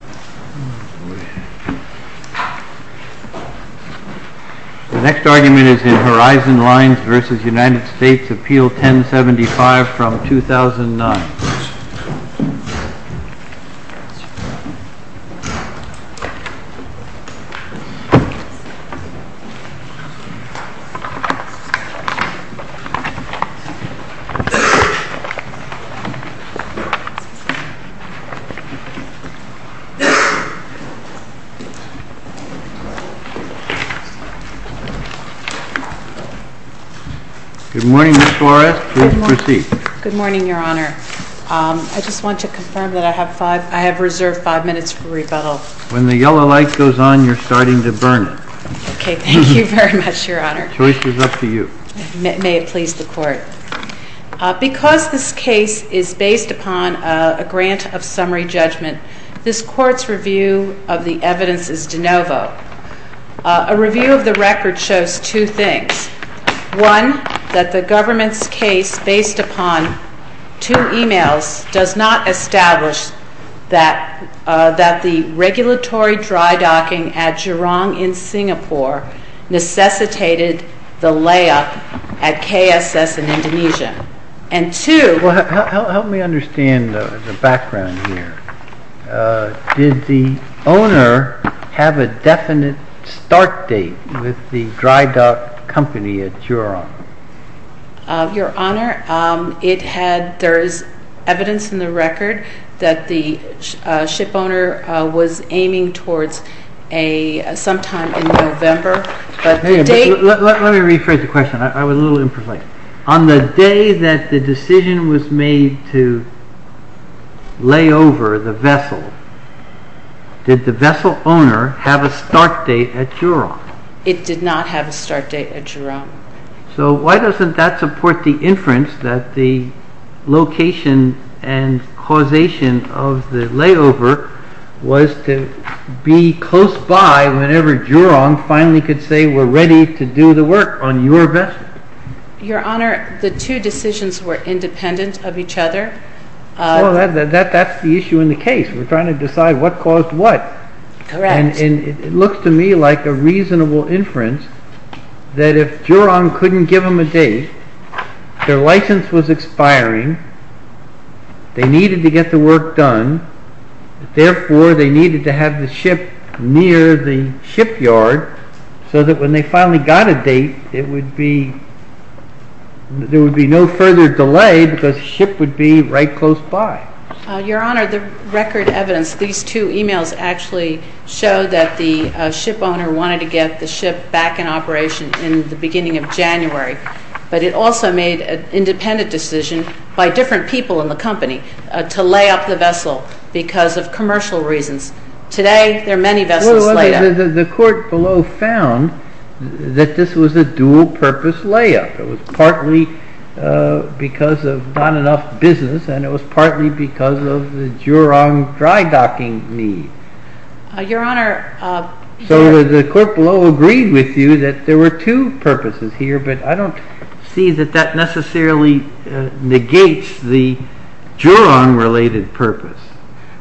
The next argument is in Horizon Lines v. United States, Appeal 1075 from 2009. This case is based upon a grant of summary judgment. This Court's review of the evidence is de novo. A review of the record shows two things. One, that the government's case, based upon two emails, does not establish that the regulatory dry docking at Jurong in Singapore necessitated the layup at KSS in Indonesia. And two... Well, help me understand the background here. Did the owner have a definite start date with the dry dock company at Jurong? Your Honor, there is evidence in the record that the ship owner was aiming towards sometime in November, but the date... Let me rephrase the question. I was a little imprecise. On the day that the decision was made to lay over the vessel, did the vessel owner have a start date at Jurong? It did not have a start date at Jurong. So why doesn't that support the inference that the location and causation of the layover was to be close by whenever Jurong finally could say, we're ready to do the work on your vessel? Your Honor, the two decisions were independent of each other. Well, that's the issue in the case. We're trying to decide what caused what. Correct. And it looks to me like a reasonable inference that if Jurong couldn't give them a date, their license was expiring, they needed to get the work done, therefore, they needed to have the ship near the shipyard so that when they finally got a date, there would be no further delay because the ship would be right close by. Your Honor, the record evidence, these two emails actually show that the ship owner wanted to get the ship back in operation in the beginning of January. But it also made an independent decision by different people in the company to lay up the vessel because of commercial reasons. Today, there are many vessels laid up. Well, the court below found that this was a dual-purpose layup. It was partly because of not enough business, and it was partly because of the Jurong dry docking need. Your Honor. So the court below agreed with you that there were two purposes here, but I don't see that that necessarily negates the Jurong-related purpose.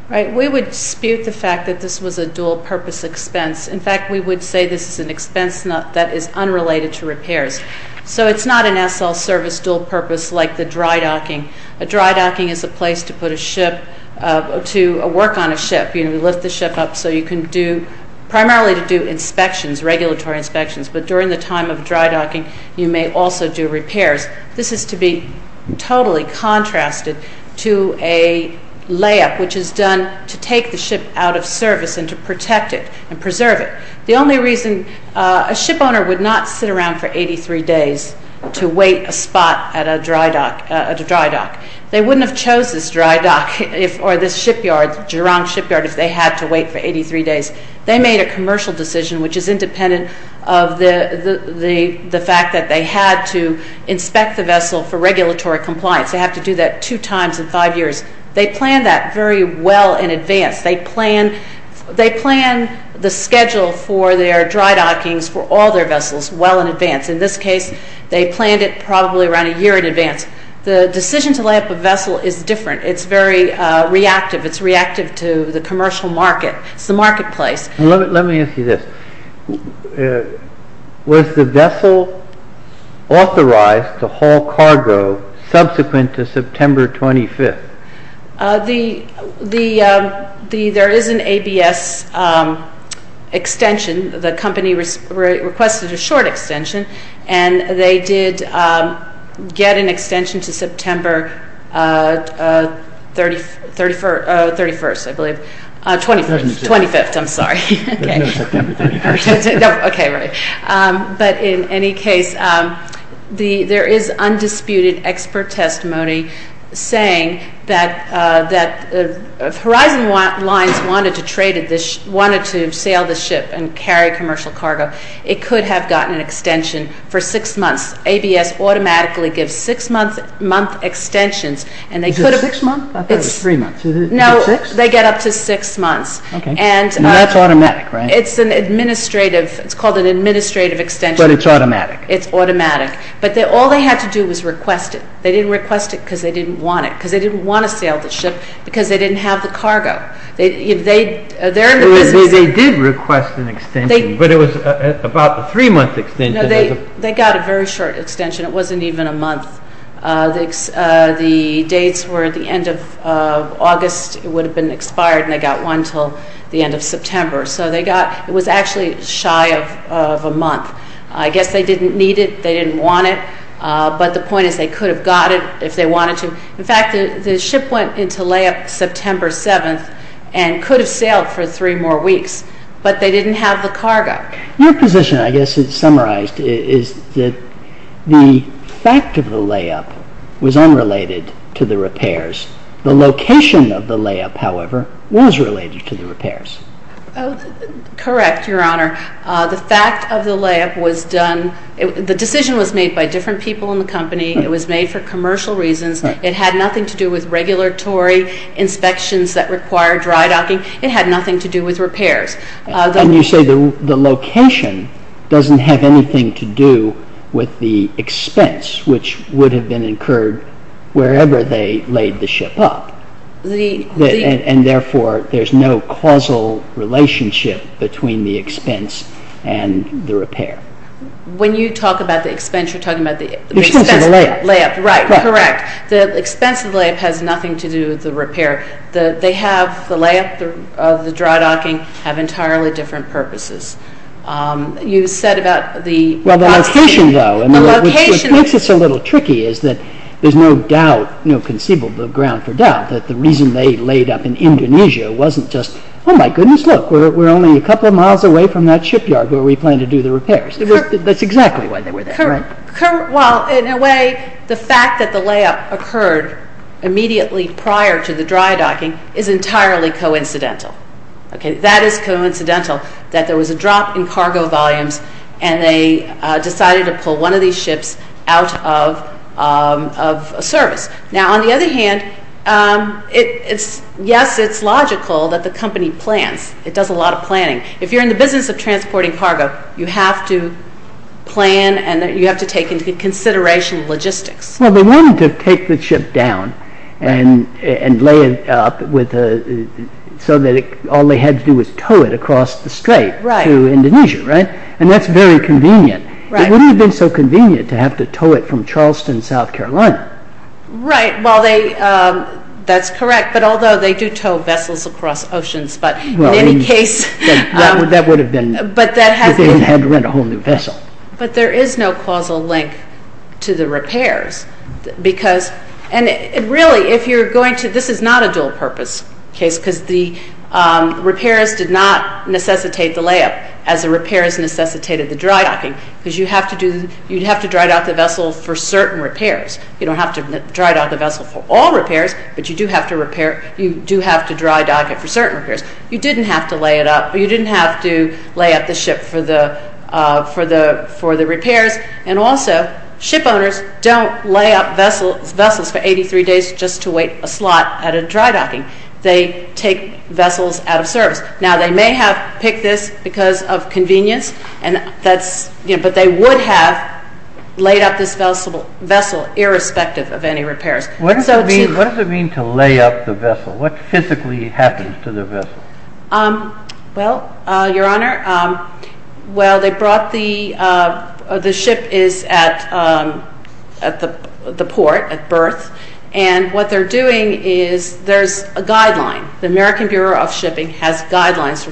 Right. We would dispute the fact that this was a dual-purpose expense. In fact, we would say this is an expense that is unrelated to repairs. So it's not an SL service dual-purpose like the dry docking. A dry docking is a place to put a ship, to work on a ship. You lift the ship up so you can do, primarily to do inspections, regulatory inspections. But during the time of dry docking, you may also do repairs. This is to be totally contrasted to a layup which is done to take the ship out of service and to protect it and preserve it. The only reason, a ship owner would not sit around for 83 days to wait a spot at a dry dock. They wouldn't have chose this dry dock or this shipyard, Jurong shipyard, if they had to wait for 83 days. They made a commercial decision which is independent of the fact that they had to inspect the vessel for regulatory compliance. They have to do that two times in five years. They planned that very well in advance. They plan the schedule for their dry dockings for all their vessels well in advance. In this case, they planned it probably around a year in advance. The decision to lay up a vessel is different. It's very reactive. It's reactive to the commercial market. It's the marketplace. Let me ask you this. Was the vessel authorized to haul cargo subsequent to September 25th? There is an ABS extension. The company requested a short extension, and they did get an extension to September 31st, I believe. 25th, I'm sorry. No, September 31st. Okay, right. But in any case, there is undisputed expert testimony saying that if Horizon Lines wanted to sail this ship and carry commercial cargo, it could have gotten an extension for six months. ABS automatically gives six-month extensions. Is it six months? I thought it was three months. Is it six? No, they get up to six months. That's automatic, right? It's called an administrative extension. But it's automatic. It's automatic. But all they had to do was request it. They didn't request it because they didn't want it, because they didn't want to sail the ship, because they didn't have the cargo. They did request an extension, but it was about a three-month extension. No, they got a very short extension. It wasn't even a month. The dates were the end of August. It would have been expired, and they got one until the end of September. So it was actually shy of a month. I guess they didn't need it. They didn't want it. But the point is they could have got it if they wanted to. In fact, the ship went into layup September 7th and could have sailed for three more weeks, but they didn't have the cargo. Your position, I guess, summarized is that the fact of the layup was unrelated to the repairs. The location of the layup, however, was related to the repairs. Correct, Your Honor. The fact of the layup was done – the decision was made by different people in the company. It was made for commercial reasons. It had nothing to do with regulatory inspections that required dry docking. It had nothing to do with repairs. And you say the location doesn't have anything to do with the expense, which would have been incurred wherever they laid the ship up. And therefore, there's no causal relationship between the expense and the repair. When you talk about the expense, you're talking about the expense of the layup. The expense of the layup. Right, correct. The expense of the layup has nothing to do with the repair. The layup of the dry docking have entirely different purposes. You said about the – Well, the location, though, which makes this a little tricky, is that there's no doubt, no conceivable ground for doubt, that the reason they laid up in Indonesia wasn't just, oh, my goodness, look, we're only a couple of miles away from that shipyard where we plan to do the repairs. That's exactly why they were there. Well, in a way, the fact that the layup occurred immediately prior to the dry docking is entirely coincidental. That is coincidental, that there was a drop in cargo volumes and they decided to pull one of these ships out of service. Now, on the other hand, yes, it's logical that the company plans. It does a lot of planning. If you're in the business of transporting cargo, you have to plan and you have to take into consideration logistics. Well, they wanted to take the ship down and lay it up so that all they had to do was tow it across the strait to Indonesia, right? And that's very convenient. It wouldn't have been so convenient to have to tow it from Charleston, South Carolina. Right, well, that's correct, but although they do tow vessels across oceans, but in any case... That would have been... They would have had to rent a whole new vessel. But there is no causal link to the repairs because... And really, if you're going to... This is not a dual-purpose case because the repairs did not necessitate the layup as the repairs necessitated the dry docking because you'd have to dry dock the vessel for certain repairs. You don't have to dry dock the vessel for all repairs, but you do have to dry dock it for certain repairs. You didn't have to lay it up. You didn't have to lay up the ship for the repairs. And also, ship owners don't lay up vessels for 83 days just to wait a slot at a dry docking. They take vessels out of service. Now, they may have picked this because of convenience, but they would have laid up this vessel irrespective of any repairs. What does it mean to lay up the vessel? What physically happens to the vessel? Well, Your Honor, well, they brought the... The ship is at the port at berth, and what they're doing is there's a guideline. The American Bureau of Shipping has guidelines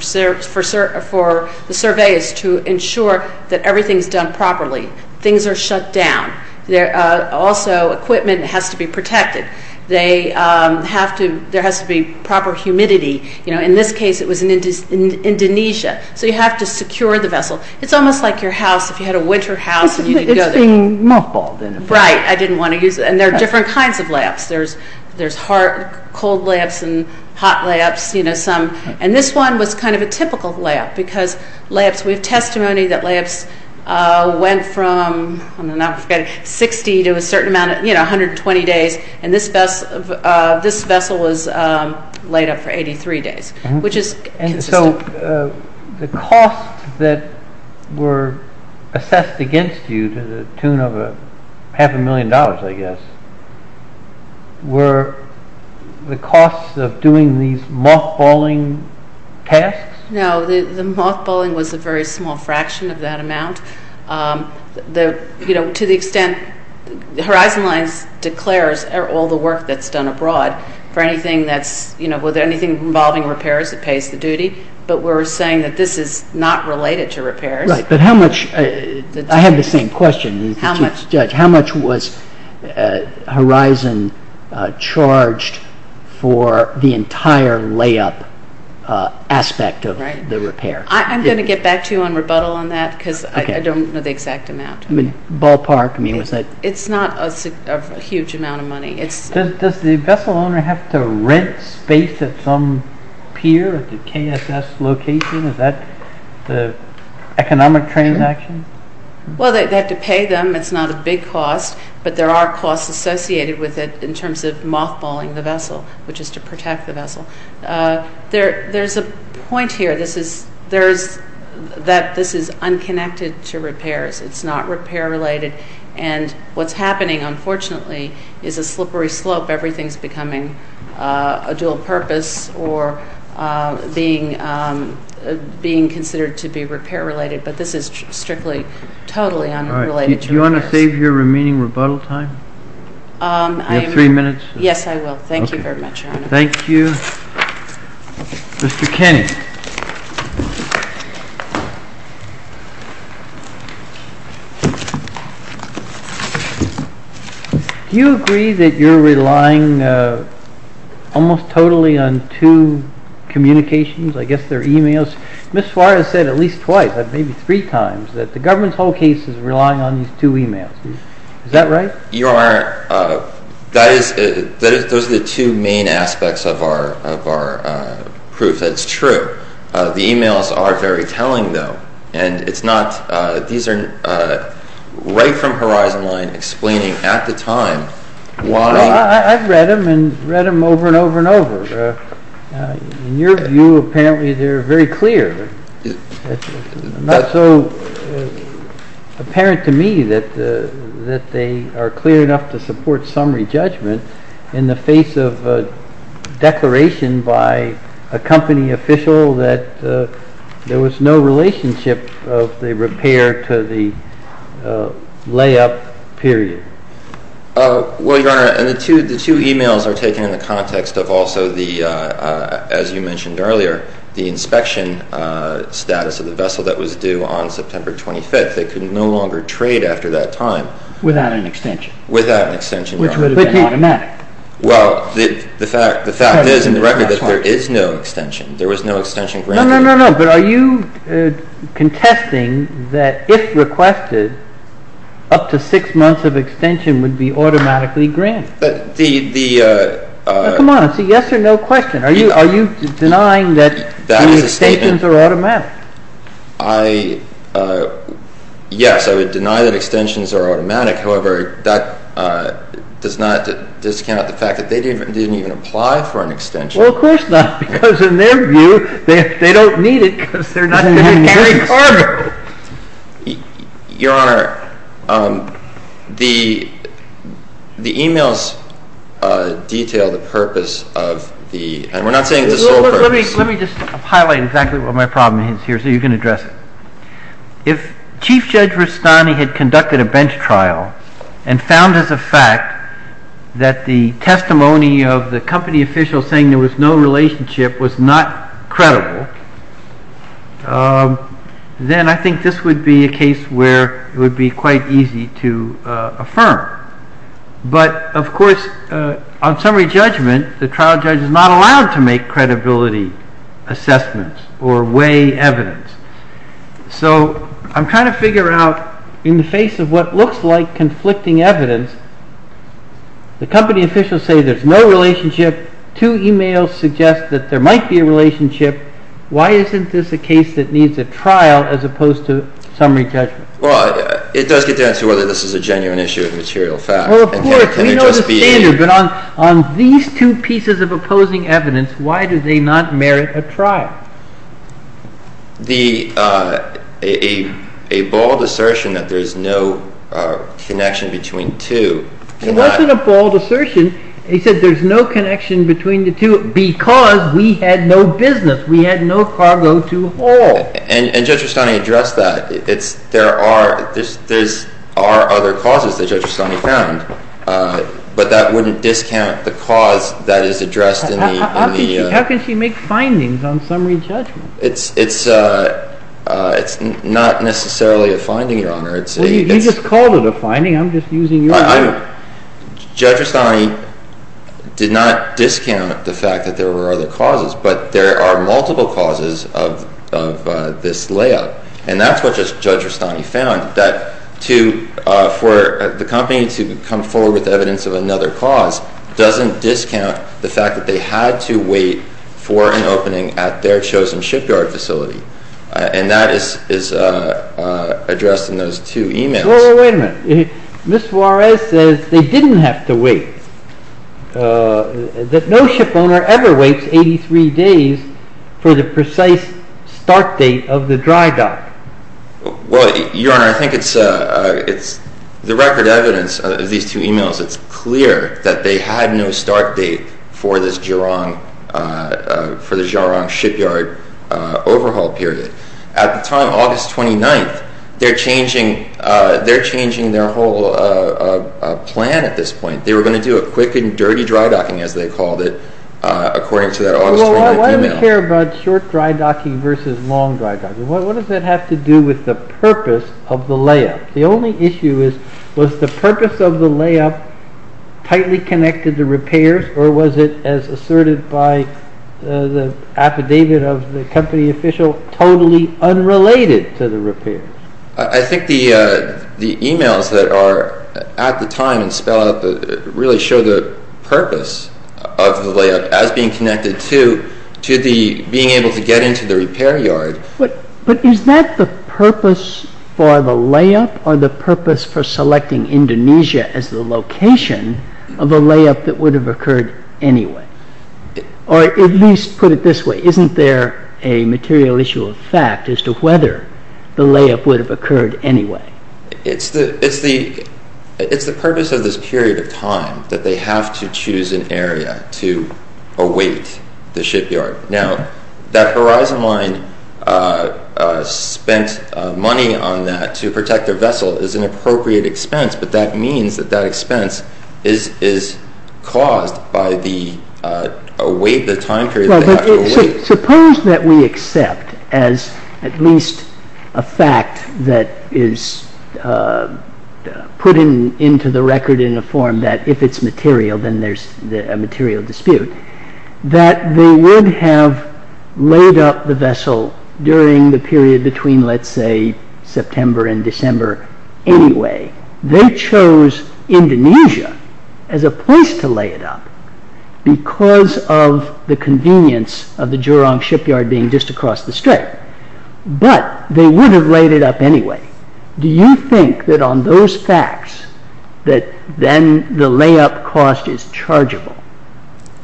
for the surveys to ensure that everything's done properly. Things are shut down. Also, equipment has to be protected. There has to be proper humidity. In this case, it was in Indonesia, so you have to secure the vessel. It's almost like your house. If you had a winter house and you didn't go there. It's being muffled. Right. I didn't want to use it. And there are different kinds of layups. There's cold layups and hot layups. And this one was kind of a typical layup because we have testimony that layups went from 60 to a certain amount, 120 days, and this vessel was laid up for 83 days, which is consistent. So the costs that were assessed against you to the tune of half a million dollars, I guess, were the costs of doing these mothballing tasks? No. The mothballing was a very small fraction of that amount. To the extent Horizon Lines declares all the work that's done abroad for anything involving repairs, it pays the duty. But we're saying that this is not related to repairs. Right. But how much? I have the same question. Judge, how much was Horizon charged for the entire layup aspect of the repair? I'm going to get back to you on rebuttal on that because I don't know the exact amount. Ballpark? It's not a huge amount of money. Does the vessel owner have to rent space at some pier or KSS location? Is that the economic transaction? Well, they have to pay them. It's not a big cost. But there are costs associated with it in terms of mothballing the vessel, which is to protect the vessel. There's a point here that this is unconnected to repairs. It's not repair-related. What's happening, unfortunately, is a slippery slope. Everything's becoming a dual purpose or being considered to be repair-related. But this is strictly, totally unrelated to repairs. Do you want to save your remaining rebuttal time? Do you have three minutes? Yes, I will. Thank you very much, Your Honor. Thank you. Mr. Kenney. Do you agree that you're relying almost totally on two communications? I guess they're e-mails. Ms. Suarez said at least twice, maybe three times, that the government's whole case is relying on these two e-mails. Is that right? Your Honor, those are the two main aspects of our proof. The e-mails are very telling, though. These are right from Horizon Line, explaining at the time why— I've read them, and read them over and over and over. In your view, apparently they're very clear. Not so apparent to me that they are clear enough to support summary judgment in the face of a declaration by a company official that there was no relationship of the repair to the layup period. Well, Your Honor, the two e-mails are taken in the context of also the, as you mentioned earlier, the inspection status of the vessel that was due on September 25th. It could no longer trade after that time. Without an extension. Without an extension, Your Honor. Which would have been automatic. Well, the fact is, in the record, that there is no extension. There was no extension granted. No, no, no, no. But are you contesting that if requested, up to six months of extension would be automatically granted? The— Come on. It's a yes or no question. Are you denying that the extensions are automatic? That is a statement. Yes, I would deny that extensions are automatic. However, that does not discount the fact that they didn't even apply for an extension. Well, of course not. Because in their view, they don't need it because they're not going to carry carbon. Your Honor, the e-mails detail the purpose of the—and we're not saying it's a sole purpose. Let me just highlight exactly what my problem is here so you can address it. If Chief Judge Rustani had conducted a bench trial and found as a fact that the testimony of the company official saying there was no relationship was not credible, then I think this would be a case where it would be quite easy to affirm. But, of course, on summary judgment, the trial judge is not allowed to make credibility assessments or weigh evidence. So I'm trying to figure out in the face of what looks like conflicting evidence, the company officials say there's no relationship. Two e-mails suggest that there might be a relationship. Why isn't this a case that needs a trial as opposed to summary judgment? Well, it does get down to whether this is a genuine issue of material fact. Well, of course. We know the standard. But on these two pieces of opposing evidence, why do they not merit a trial? A bold assertion that there's no connection between the two. It wasn't a bold assertion. It said there's no connection between the two because we had no business. We had no cargo to haul. And Judge Rustani addressed that. There are other causes that Judge Rustani found. But that wouldn't discount the cause that is addressed in the… How can she make findings on summary judgment? It's not necessarily a finding, Your Honor. You just called it a finding. I'm just using your word. Judge Rustani did not discount the fact that there were other causes. But there are multiple causes of this layout. And that's what Judge Rustani found, that for the company to come forward with evidence of another cause doesn't discount the fact that they had to wait for an opening at their chosen shipyard facility. And that is addressed in those two emails. Wait a minute. Ms. Juarez says they didn't have to wait, that no shipowner ever waits 83 days for the precise start date of the dry dock. Well, Your Honor, I think it's the record evidence of these two emails. It's clear that they had no start date for the Giron shipyard overhaul period. At the time, August 29th, they're changing their whole plan at this point. They were going to do a quick and dirty dry docking, as they called it, according to that August 29th email. Well, why do we care about short dry docking versus long dry docking? What does that have to do with the purpose of the layout? The only issue is, was the purpose of the layout tightly connected to repairs, or was it, as asserted by the affidavit of the company official, totally unrelated to the repairs? I think the emails that are at the time really show the purpose of the layout as being connected to being able to get into the repair yard. But is that the purpose for the layout, or the purpose for selecting Indonesia as the location of a layout that would have occurred anyway? Or at least put it this way, isn't there a material issue of fact as to whether the layout would have occurred anyway? It's the purpose of this period of time that they have to choose an area to await the shipyard. Now, that Horizon Line spent money on that to protect their vessel is an appropriate expense, but that means that that expense is caused by the time period that they have to await. Suppose that we accept, as at least a fact that is put into the record in a form that if it's material then there's a material dispute, that they would have laid up the vessel during the period between, let's say, September and December anyway. They chose Indonesia as a place to lay it up because of the convenience of the Jurong shipyard being just across the strait, but they would have laid it up anyway. Do you think that on those facts that then the layup cost is chargeable?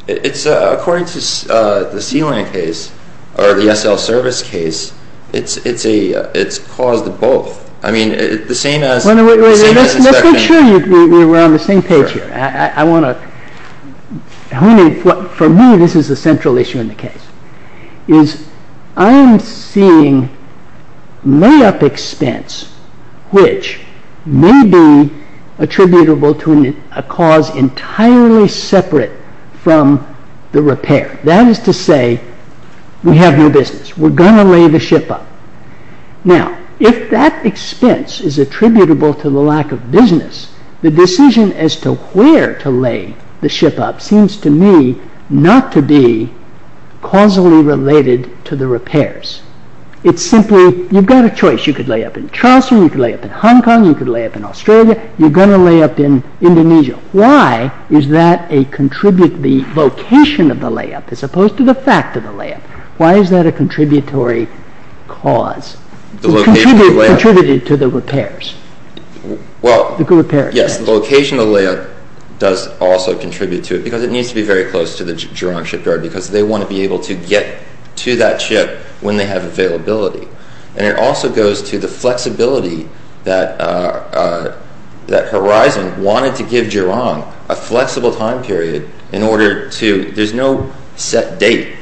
It's according to the Sea-Land case, or the SL Service case, it's caused both. I mean, the same as... Let's make sure we're on the same page here. For me, this is the central issue in the case. I'm seeing layup expense which may be attributable to a cause entirely separate from the repair. That is to say, we have no business, we're going to lay the ship up. Now, if that expense is attributable to the lack of business, the decision as to where to lay the ship up seems to me not to be causally related to the repairs. It's simply, you've got a choice. You could lay up in Charleston, you could lay up in Hong Kong, you could lay up in Australia, you're going to lay up in Indonesia. Why is that a contributory vocation of the layup as opposed to the fact of the layup? Why is that a contributory cause? It contributed to the repairs. Yes, the location of the layup does also contribute to it because it needs to be very close to the Gerong shipyard because they want to be able to get to that ship when they have availability. And it also goes to the flexibility that Horizon wanted to give Gerong a flexible time period in order to, there's no set date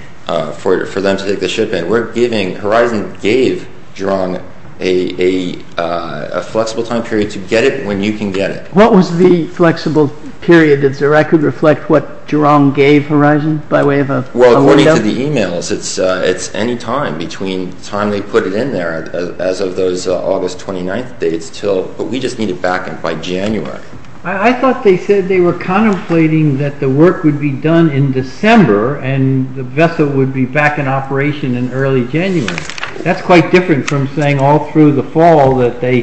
for them to take the ship in. We're giving, Horizon gave Gerong a flexible time period to get it when you can get it. What was the flexible period? Is there, I could reflect what Gerong gave Horizon by way of a window? Well, according to the emails, it's any time between the time they put it in there as of those August 29th dates but we just need it back by January. I thought they said they were contemplating that the work would be done in December and the vessel would be back in operation in early January. That's quite different from saying all through the fall that they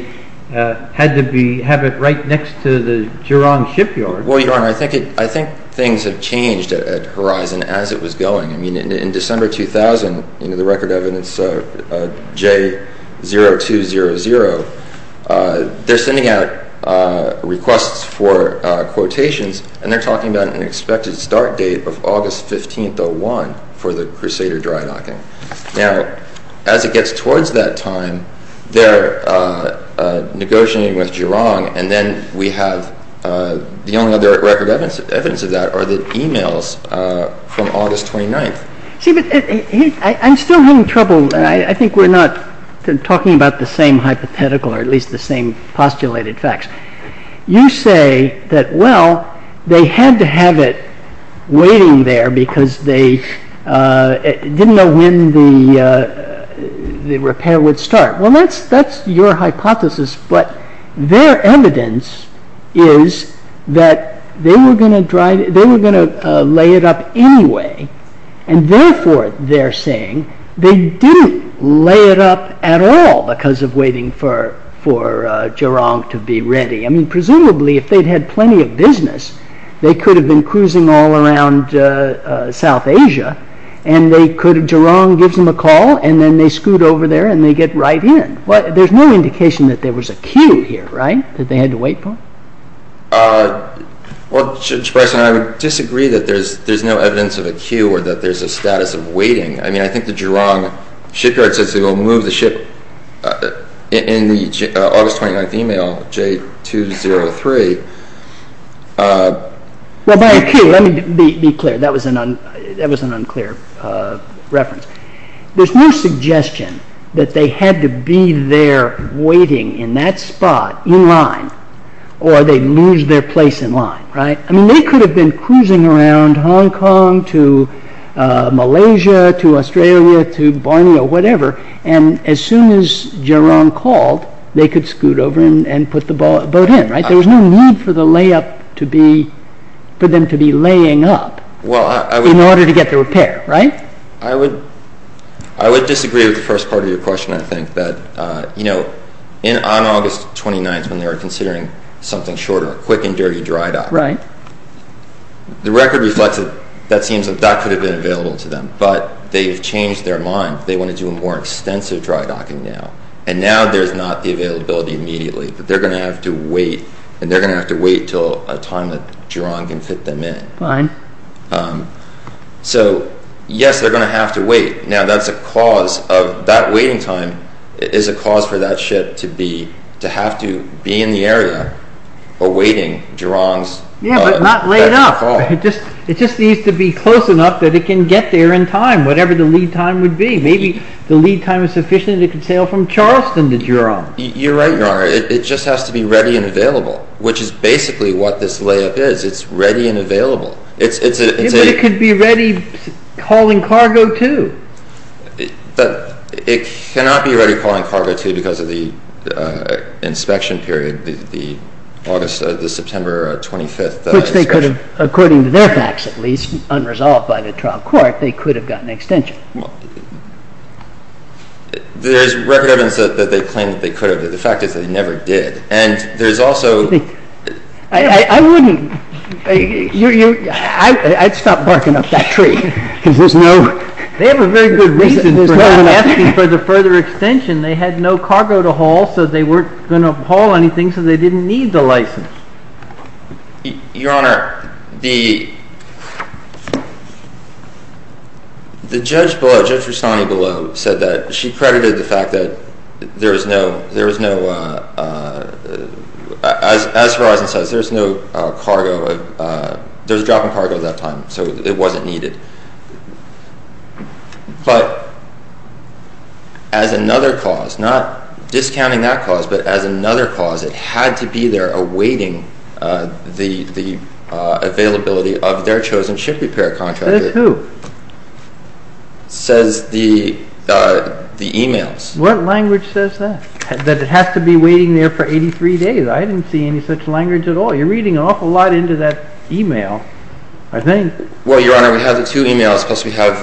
had to have it right next to the Gerong shipyard. Well, Your Honor, I think things have changed at Horizon as it was going. I mean, in December 2000, the record evidence J0200, they're sending out requests for quotations and they're talking about an expected start date of August 15th 01 for the Crusader dry docking. Now, as it gets towards that time, they're negotiating with Gerong and then we have the only other record evidence of that are the emails from August 29th. See, but I'm still having trouble. I think we're not talking about the same hypothetical or at least the same postulated facts. You say that, well, they had to have it waiting there because they didn't know when the repair would start. Well, that's your hypothesis, but their evidence is that they were going to lay it up anyway and therefore they're saying they didn't lay it up at all because of waiting for Gerong to be ready. I mean, presumably if they'd had plenty of business, they could have been cruising all around South Asia and Gerong gives them a call and then they scoot over there and they get right in. But there's no indication that there was a queue here, right, that they had to wait for? Well, Judge Bryson, I would disagree that there's no evidence of a queue or that there's a status of waiting. I mean, I think the Gerong shipyard says they will move the ship in the August 29th email, J203. Well, by a queue, let me be clear, that was an unclear reference. There's no suggestion that they had to be there waiting in that spot in line or they'd lose their place in line, right? I mean, they could have been cruising around Hong Kong to Malaysia to Australia to Borneo, whatever, and as soon as Gerong called, they could scoot over and put the boat in, right? There was no need for them to be laying up in order to get the repair, right? I would disagree with the first part of your question, I think, that, you know, on August 29th when they were considering something shorter, a quick and dirty dry dock, the record reflects that that could have been available to them, but they've changed their mind. They want to do a more extensive dry docking now, and now there's not the availability immediately, but they're going to have to wait, and they're going to have to wait until a time that Gerong can fit them in. Fine. So, yes, they're going to have to wait. Now, that's a cause of, that waiting time is a cause for that ship to be, to have to be in the area awaiting Gerong's… Yeah, but not laid up. It just needs to be close enough that it can get there in time, whatever the lead time would be. You're right, Your Honor. It just has to be ready and available, which is basically what this layup is. It's ready and available. But it could be ready, hauling cargo, too. It cannot be ready, hauling cargo, too, because of the inspection period, the September 25th inspection. Which they could have, according to their facts, at least, unresolved by the trial court, they could have gotten extension. There's record evidence that they claim that they could have, but the fact is that they never did. And there's also… I wouldn't, I'd stop barking up that tree, because there's no… They have a very good reason for not asking for the further extension. They had no cargo to haul, so they weren't going to haul anything, so they didn't need the license. Your Honor, the judge below, Judge Rustani below, said that she credited the fact that there was no… As Verizon says, there was no cargo, there was a drop in cargo at that time, so it wasn't needed. But as another cause, not discounting that cause, but as another cause, it had to be there awaiting the availability of their chosen ship repair contractor. Says who? Says the emails. What language says that? That it has to be waiting there for 83 days? I didn't see any such language at all. You're reading an awful lot into that email, I think. Well, Your Honor, we have the two emails, plus we have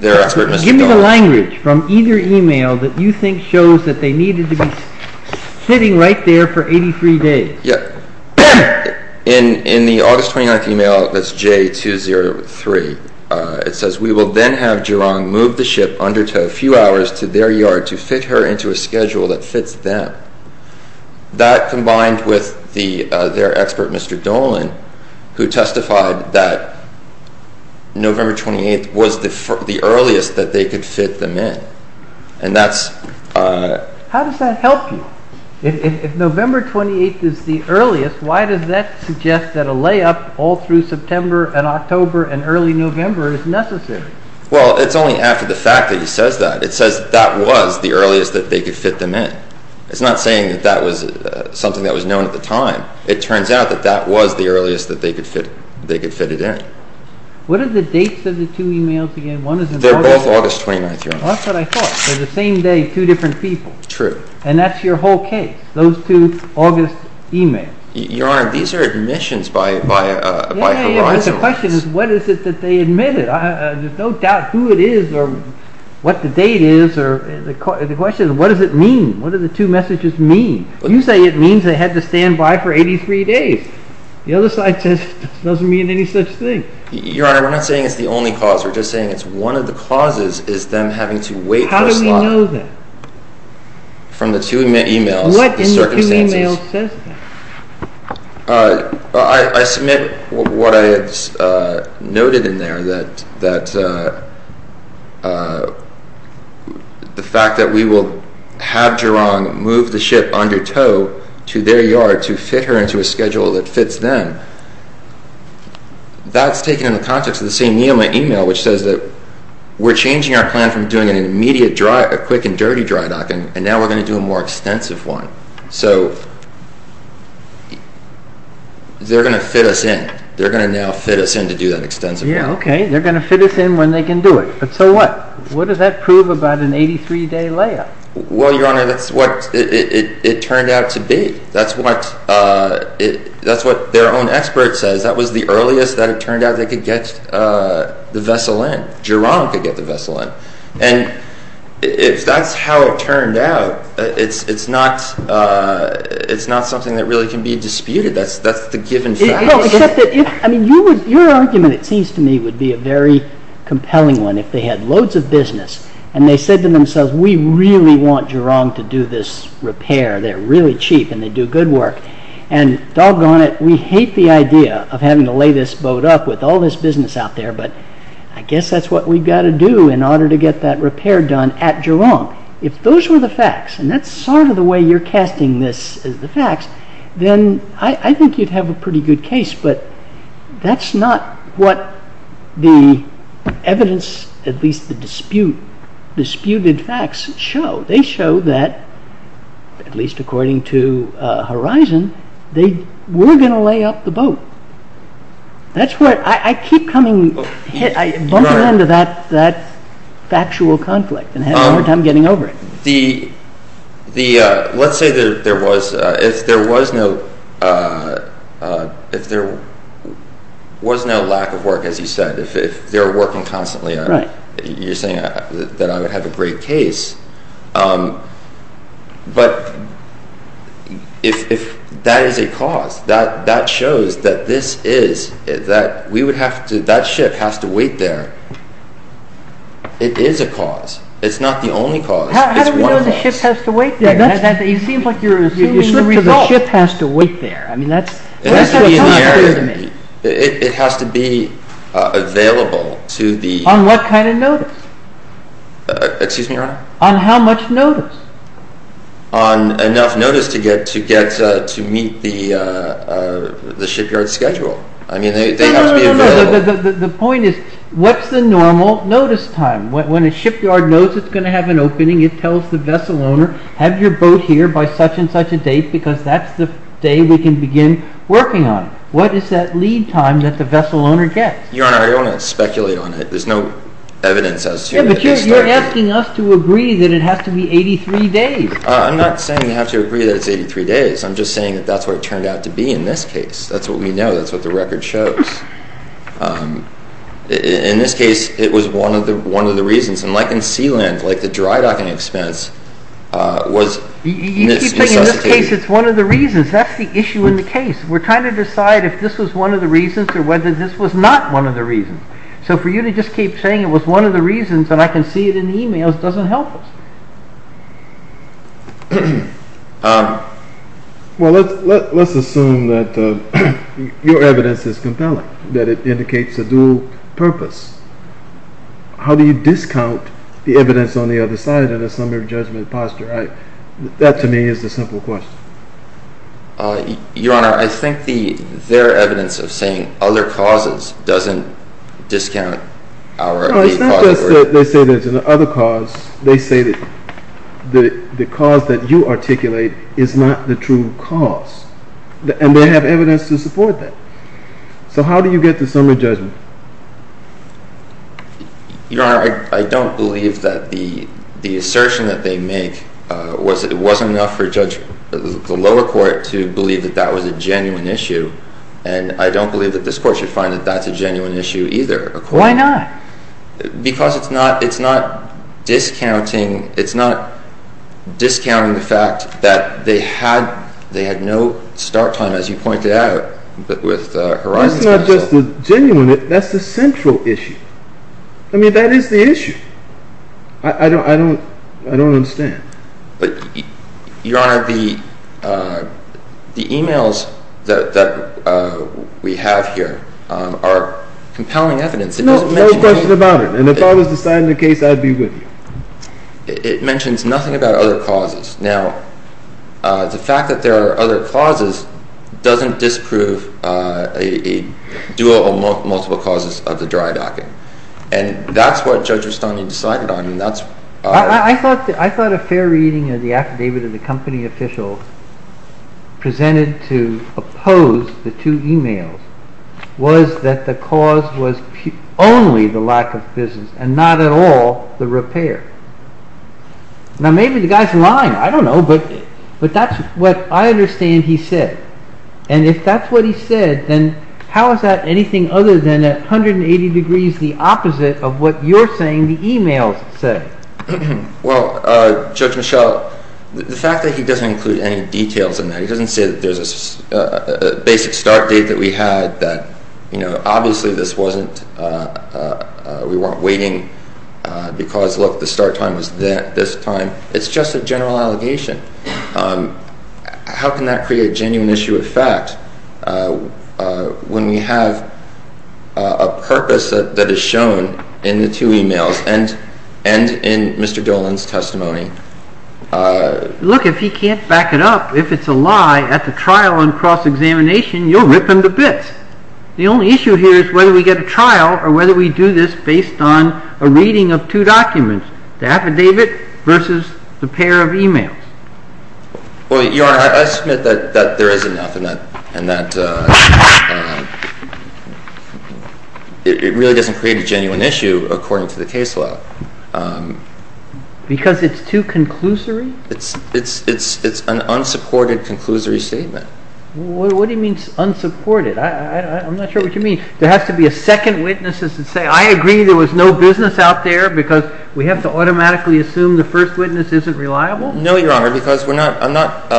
their expert, Mr. Doherty. What is the language from either email that you think shows that they needed to be sitting right there for 83 days? In the August 29th email, that's J203, it says, We will then have Gerong move the ship undertow a few hours to their yard to fit her into a schedule that fits them. That, combined with their expert, Mr. Dolan, who testified that November 28th was the earliest that they could fit them in, and that's… How does that help you? If November 28th is the earliest, why does that suggest that a layup all through September and October and early November is necessary? Well, it's only after the fact that he says that. It says that was the earliest that they could fit them in. It's not saying that that was something that was known at the time. It turns out that that was the earliest that they could fit it in. What are the dates of the two emails again? They're both August 29th, Your Honor. Well, that's what I thought. They're the same day, two different people. True. And that's your whole case, those two August emails. Your Honor, these are admissions by horizon lines. Yeah, but the question is, what is it that they admitted? There's no doubt who it is or what the date is. The question is, what does it mean? What do the two messages mean? You say it means they had to stand by for 83 days. The other side says it doesn't mean any such thing. Your Honor, we're not saying it's the only cause. We're just saying it's one of the causes is them having to wait for a slot. How do we know that? From the two emails, the circumstances. What in the two emails says that? I submit what I noted in there, that the fact that we will have Gerong move the ship under tow to their yard to fit her into a schedule that fits them, that's taken in the context of the same email, which says that we're changing our plan from doing an immediate dry, a quick and dirty dry dock, and now we're going to do a more extensive one. So they're going to fit us in. They're going to now fit us in to do that extensive one. Yeah, okay, they're going to fit us in when they can do it. But so what? What does that prove about an 83-day layup? Well, Your Honor, that's what it turned out to be. That's what their own expert says. That was the earliest that it turned out they could get the vessel in. Gerong could get the vessel in. And if that's how it turned out, it's not something that really can be disputed. That's the given fact. No, except that your argument, it seems to me, would be a very compelling one if they had loads of business and they said to themselves, we really want Gerong to do this repair. They're really cheap and they do good work. And doggone it, we hate the idea of having to lay this boat up with all this business out there, but I guess that's what we've got to do in order to get that repair done at Gerong. If those were the facts, and that's sort of the way you're casting this as the facts, then I think you'd have a pretty good case, but that's not what the evidence, at least the disputed facts, show. They show that, at least according to Horizon, they were going to lay up the boat. That's where I keep bumping into that factual conflict and having a hard time getting over it. Let's say there was no lack of work, as you said, if they were working constantly. You're saying that I would have a great case, but if that is a cause, that shows that this is, that ship has to wait there. It is a cause. It's not the only cause. How do we know the ship has to wait there? It seems like you're assuming the result. The ship has to wait there. It has to be in the area. It has to be available to the... On what kind of notice? Excuse me, Your Honor? On how much notice? On enough notice to meet the shipyard schedule. I mean, they have to be available... The point is, what's the normal notice time? When a shipyard knows it's going to have an opening, it tells the vessel owner, have your boat here by such and such a date because that's the day we can begin working on it. What is that lead time that the vessel owner gets? Your Honor, I don't want to speculate on it. There's no evidence as to... You're asking us to agree that it has to be 83 days. I'm not saying you have to agree that it's 83 days. I'm just saying that's what it turned out to be in this case. That's what we know. That's what the record shows. In this case, it was one of the reasons. And like in Sealand, like the dry docking expense was... You keep saying in this case it's one of the reasons. That's the issue in the case. We're trying to decide if this was one of the reasons or whether this was not one of the reasons. So for you to just keep saying it was one of the reasons and I can see it in the emails doesn't help us. Well, let's assume that your evidence is compelling, that it indicates a dual purpose. How do you discount the evidence on the other side in a summary of judgment posture? That to me is a simple question. Your Honor, I think their evidence of saying other causes doesn't discount our... It's not just that they say there's an other cause. They say that the cause that you articulate is not the true cause. And they have evidence to support that. So how do you get to summary judgment? Your Honor, I don't believe that the assertion that they make was that it wasn't enough for the lower court to believe that that was a genuine issue. And I don't believe that this court should find that that's a genuine issue either. Why not? Because it's not discounting the fact that they had no start time, as you pointed out, with Horizon Special. That's not just the genuine issue. That's the central issue. I mean, that is the issue. I don't understand. But, Your Honor, the emails that we have here are compelling evidence. No, no question about it. And if I was deciding the case, I'd be with you. It mentions nothing about other causes. Now, the fact that there are other causes doesn't disprove a dual or multiple causes of the dry docking. And that's what Judge Rustani decided on. I thought a fair reading of the affidavit of the company official presented to oppose the two emails was that the cause was only the lack of business and not at all the repair. Now, maybe the guy's lying. I don't know. But that's what I understand he said. And if that's what he said, then how is that anything other than at 180 degrees the opposite of what you're saying the emails say? Well, Judge Michel, the fact that he doesn't include any details in that, he doesn't say that there's a basic start date that we had, that, you know, obviously this wasn't, we weren't waiting because, look, the start time was this time. It's just a general allegation. How can that create a genuine issue of fact when we have a purpose that is shown in the two emails and in Mr. Dolan's testimony? Look, if he can't back it up, if it's a lie at the trial and cross-examination, you'll rip him to bits. The only issue here is whether we get a trial or whether we do this based on a reading of two documents, the affidavit versus the pair of emails. Well, Your Honor, I submit that there is enough and that it really doesn't create a genuine issue according to the case law. Because it's too conclusory? It's an unsupported, conclusory statement. What do you mean unsupported? I'm not sure what you mean. There has to be a second witness that says, I agree there was no business out there because we have to automatically assume the first witness isn't reliable? No, Your Honor, because we're not, I'm not,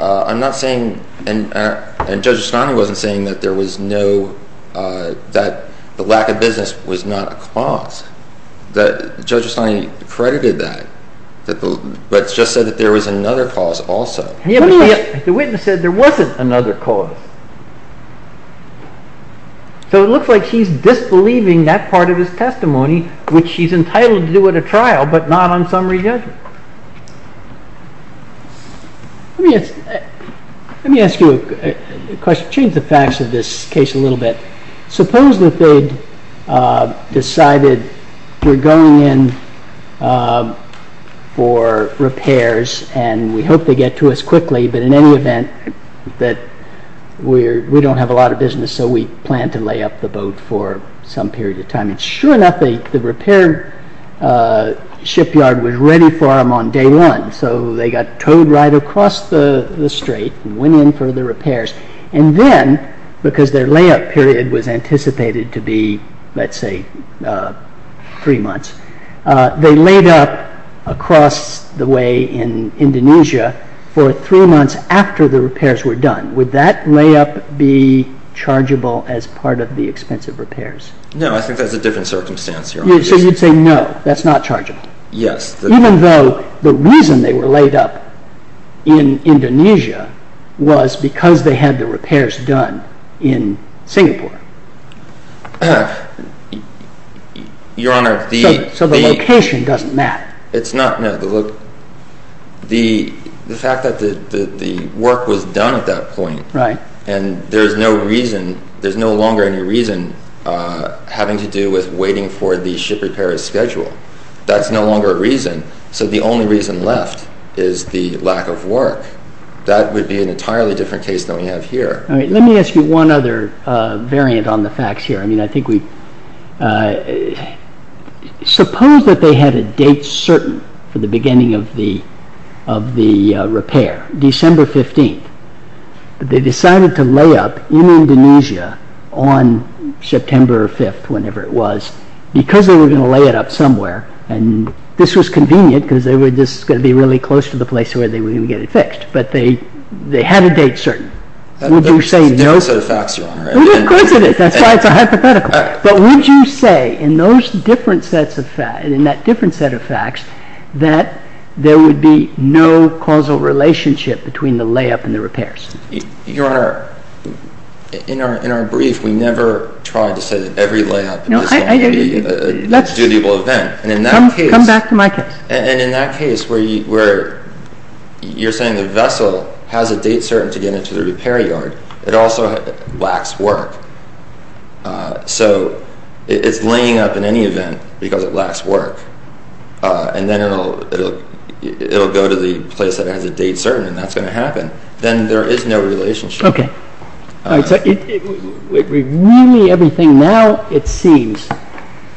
I'm not saying, and Judge O'Sconnell wasn't saying that there was no, that the lack of business was not a cause. Judge O'Sconnell credited that, but just said that there was another cause also. Yeah, but the witness said there wasn't another cause. So it looks like he's disbelieving that part of his testimony, which he's entitled to do at a trial, but not on summary judgment. Let me ask you a question, change the facts of this case a little bit. Suppose that they decided we're going in for repairs and we hope they get to us quickly, but in any event that we don't have a lot of business so we plan to lay up the boat for some period of time. And sure enough, the repair shipyard was ready for them on day one. So they got towed right across the strait and went in for the repairs. And then, because their layup period was anticipated to be, let's say, three months, they laid up across the way in Indonesia for three months after the repairs were done. Would that layup be chargeable as part of the expensive repairs? No, I think that's a different circumstance. So you'd say no, that's not chargeable. Yes. Even though the reason they were laid up in Indonesia was because they had the repairs done in Singapore. Your Honor, the... So the location doesn't matter. It's not, no. The fact that the work was done at that point and there's no reason, there's no longer any reason having to do with waiting for the ship repair schedule. That's no longer a reason. So the only reason left is the lack of work. That would be an entirely different case than we have here. All right. Let me ask you one other variant on the facts here. I mean, I think we... Suppose that they had a date certain for the beginning of the repair, December 15th. They decided to lay up in Indonesia on September 5th, whenever it was, because they were going to lay it up somewhere. And this was convenient because they were just going to be really close to the place where they were going to get it fixed. But they had a date certain. Would you say... That's a different set of facts, Your Honor. Of course it is. That's why it's a hypothetical. But would you say in those different sets of facts, in that different set of facts, that there would be no causal relationship between the layup and the repairs? Your Honor, in our brief, we never tried to say that every layup was going to be a dutiable event. Come back to my case. And in that case where you're saying the vessel has a date certain to get into the repair yard, it also lacks work. So it's laying up in any event because it lacks work. And then it'll go to the place that has a date certain, and that's going to happen. Then there is no relationship. Okay. So really everything now, it seems,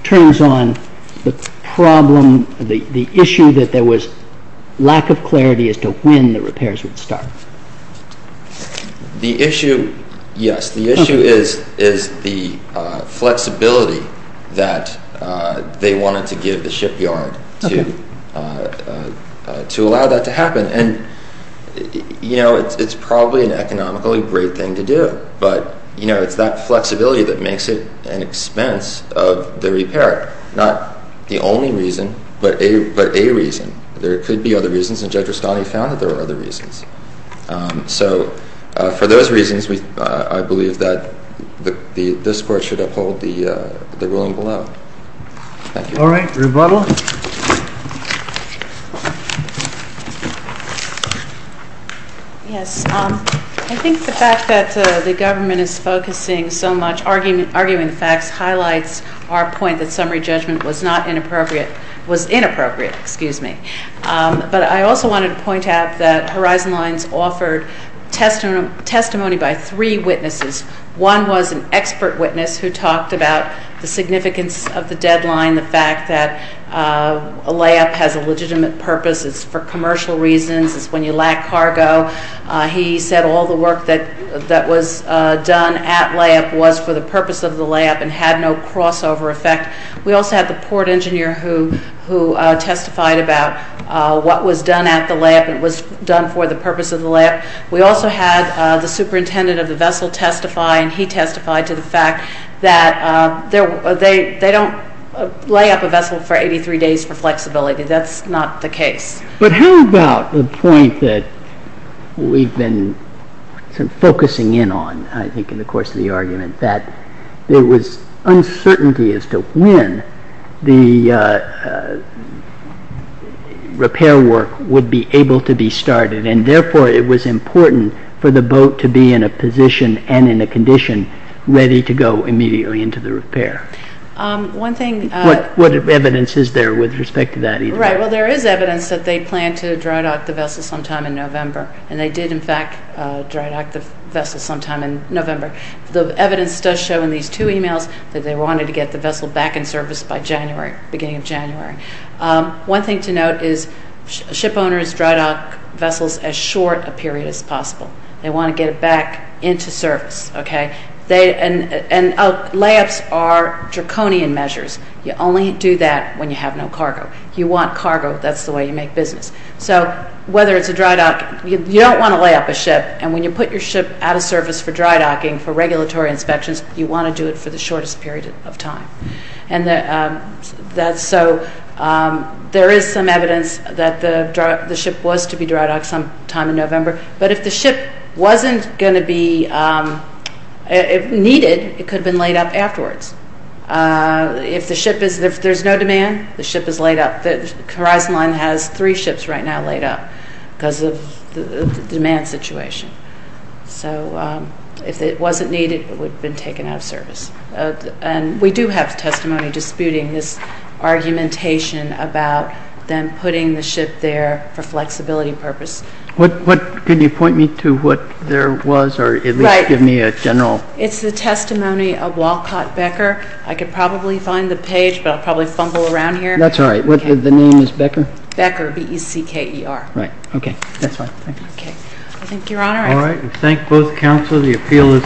turns on the problem, the issue that there was lack of clarity as to when the repairs would start. The issue, yes, the issue is the flexibility that they wanted to give the shipyard to allow that to happen. And, you know, it's probably an economically great thing to do. But, you know, it's that flexibility that makes it an expense of the repair, not the only reason, but a reason. There could be other reasons, and Judge Rustani found that there were other reasons. So for those reasons, I believe that this Court should uphold the ruling below. Thank you. All right. Rebuttal. Yes. I think the fact that the government is focusing so much, arguing facts, highlights our point that summary judgment was not inappropriate, was inappropriate, excuse me. But I also wanted to point out that Horizon Lines offered testimony by three witnesses. One was an expert witness who talked about the significance of the deadline, the fact that a layup has a legitimate purpose, it's for commercial reasons, it's when you lack cargo. He said all the work that was done at layup was for the purpose of the layup and had no crossover effect. We also had the port engineer who testified about what was done at the layup, it was done for the purpose of the layup. We also had the superintendent of the vessel testify, and he testified to the fact that they don't lay up a vessel for 83 days for flexibility, that's not the case. But how about the point that we've been focusing in on, I think, in the course of the argument, that there was uncertainty as to when the repair work would be able to be started, and therefore it was important for the boat to be in a position and in a condition ready to go immediately into the repair. What evidence is there with respect to that either? Right, well there is evidence that they planned to dry dock the vessel sometime in November, and they did in fact dry dock the vessel sometime in November. The evidence does show in these two emails that they wanted to get the vessel back in service by January, beginning of January. One thing to note is ship owners dry dock vessels as short a period as possible. They want to get it back into service, okay? And layups are draconian measures. You only do that when you have no cargo. You want cargo, that's the way you make business. So whether it's a dry dock, you don't want to lay up a ship, and when you put your ship out of service for dry docking, for regulatory inspections, you want to do it for the shortest period of time. And so there is some evidence that the ship was to be dry docked sometime in November, but if the ship wasn't going to be needed, it could have been laid up afterwards. If there's no demand, the ship is laid up. The Horizon Line has three ships right now laid up because of the demand situation. So if it wasn't needed, it would have been taken out of service. And we do have testimony disputing this argumentation about them putting the ship there for flexibility purposes. Can you point me to what there was, or at least give me a general... Right. It's the testimony of Walcott Becker. I could probably find the page, but I'll probably fumble around here. That's all right. The name is Becker? Becker, B-E-C-K-E-R. Right. Okay. That's fine. Okay. Thank you, Your Honor. All right. We thank both counsel. The appeal is submitted. Thank you. All rise.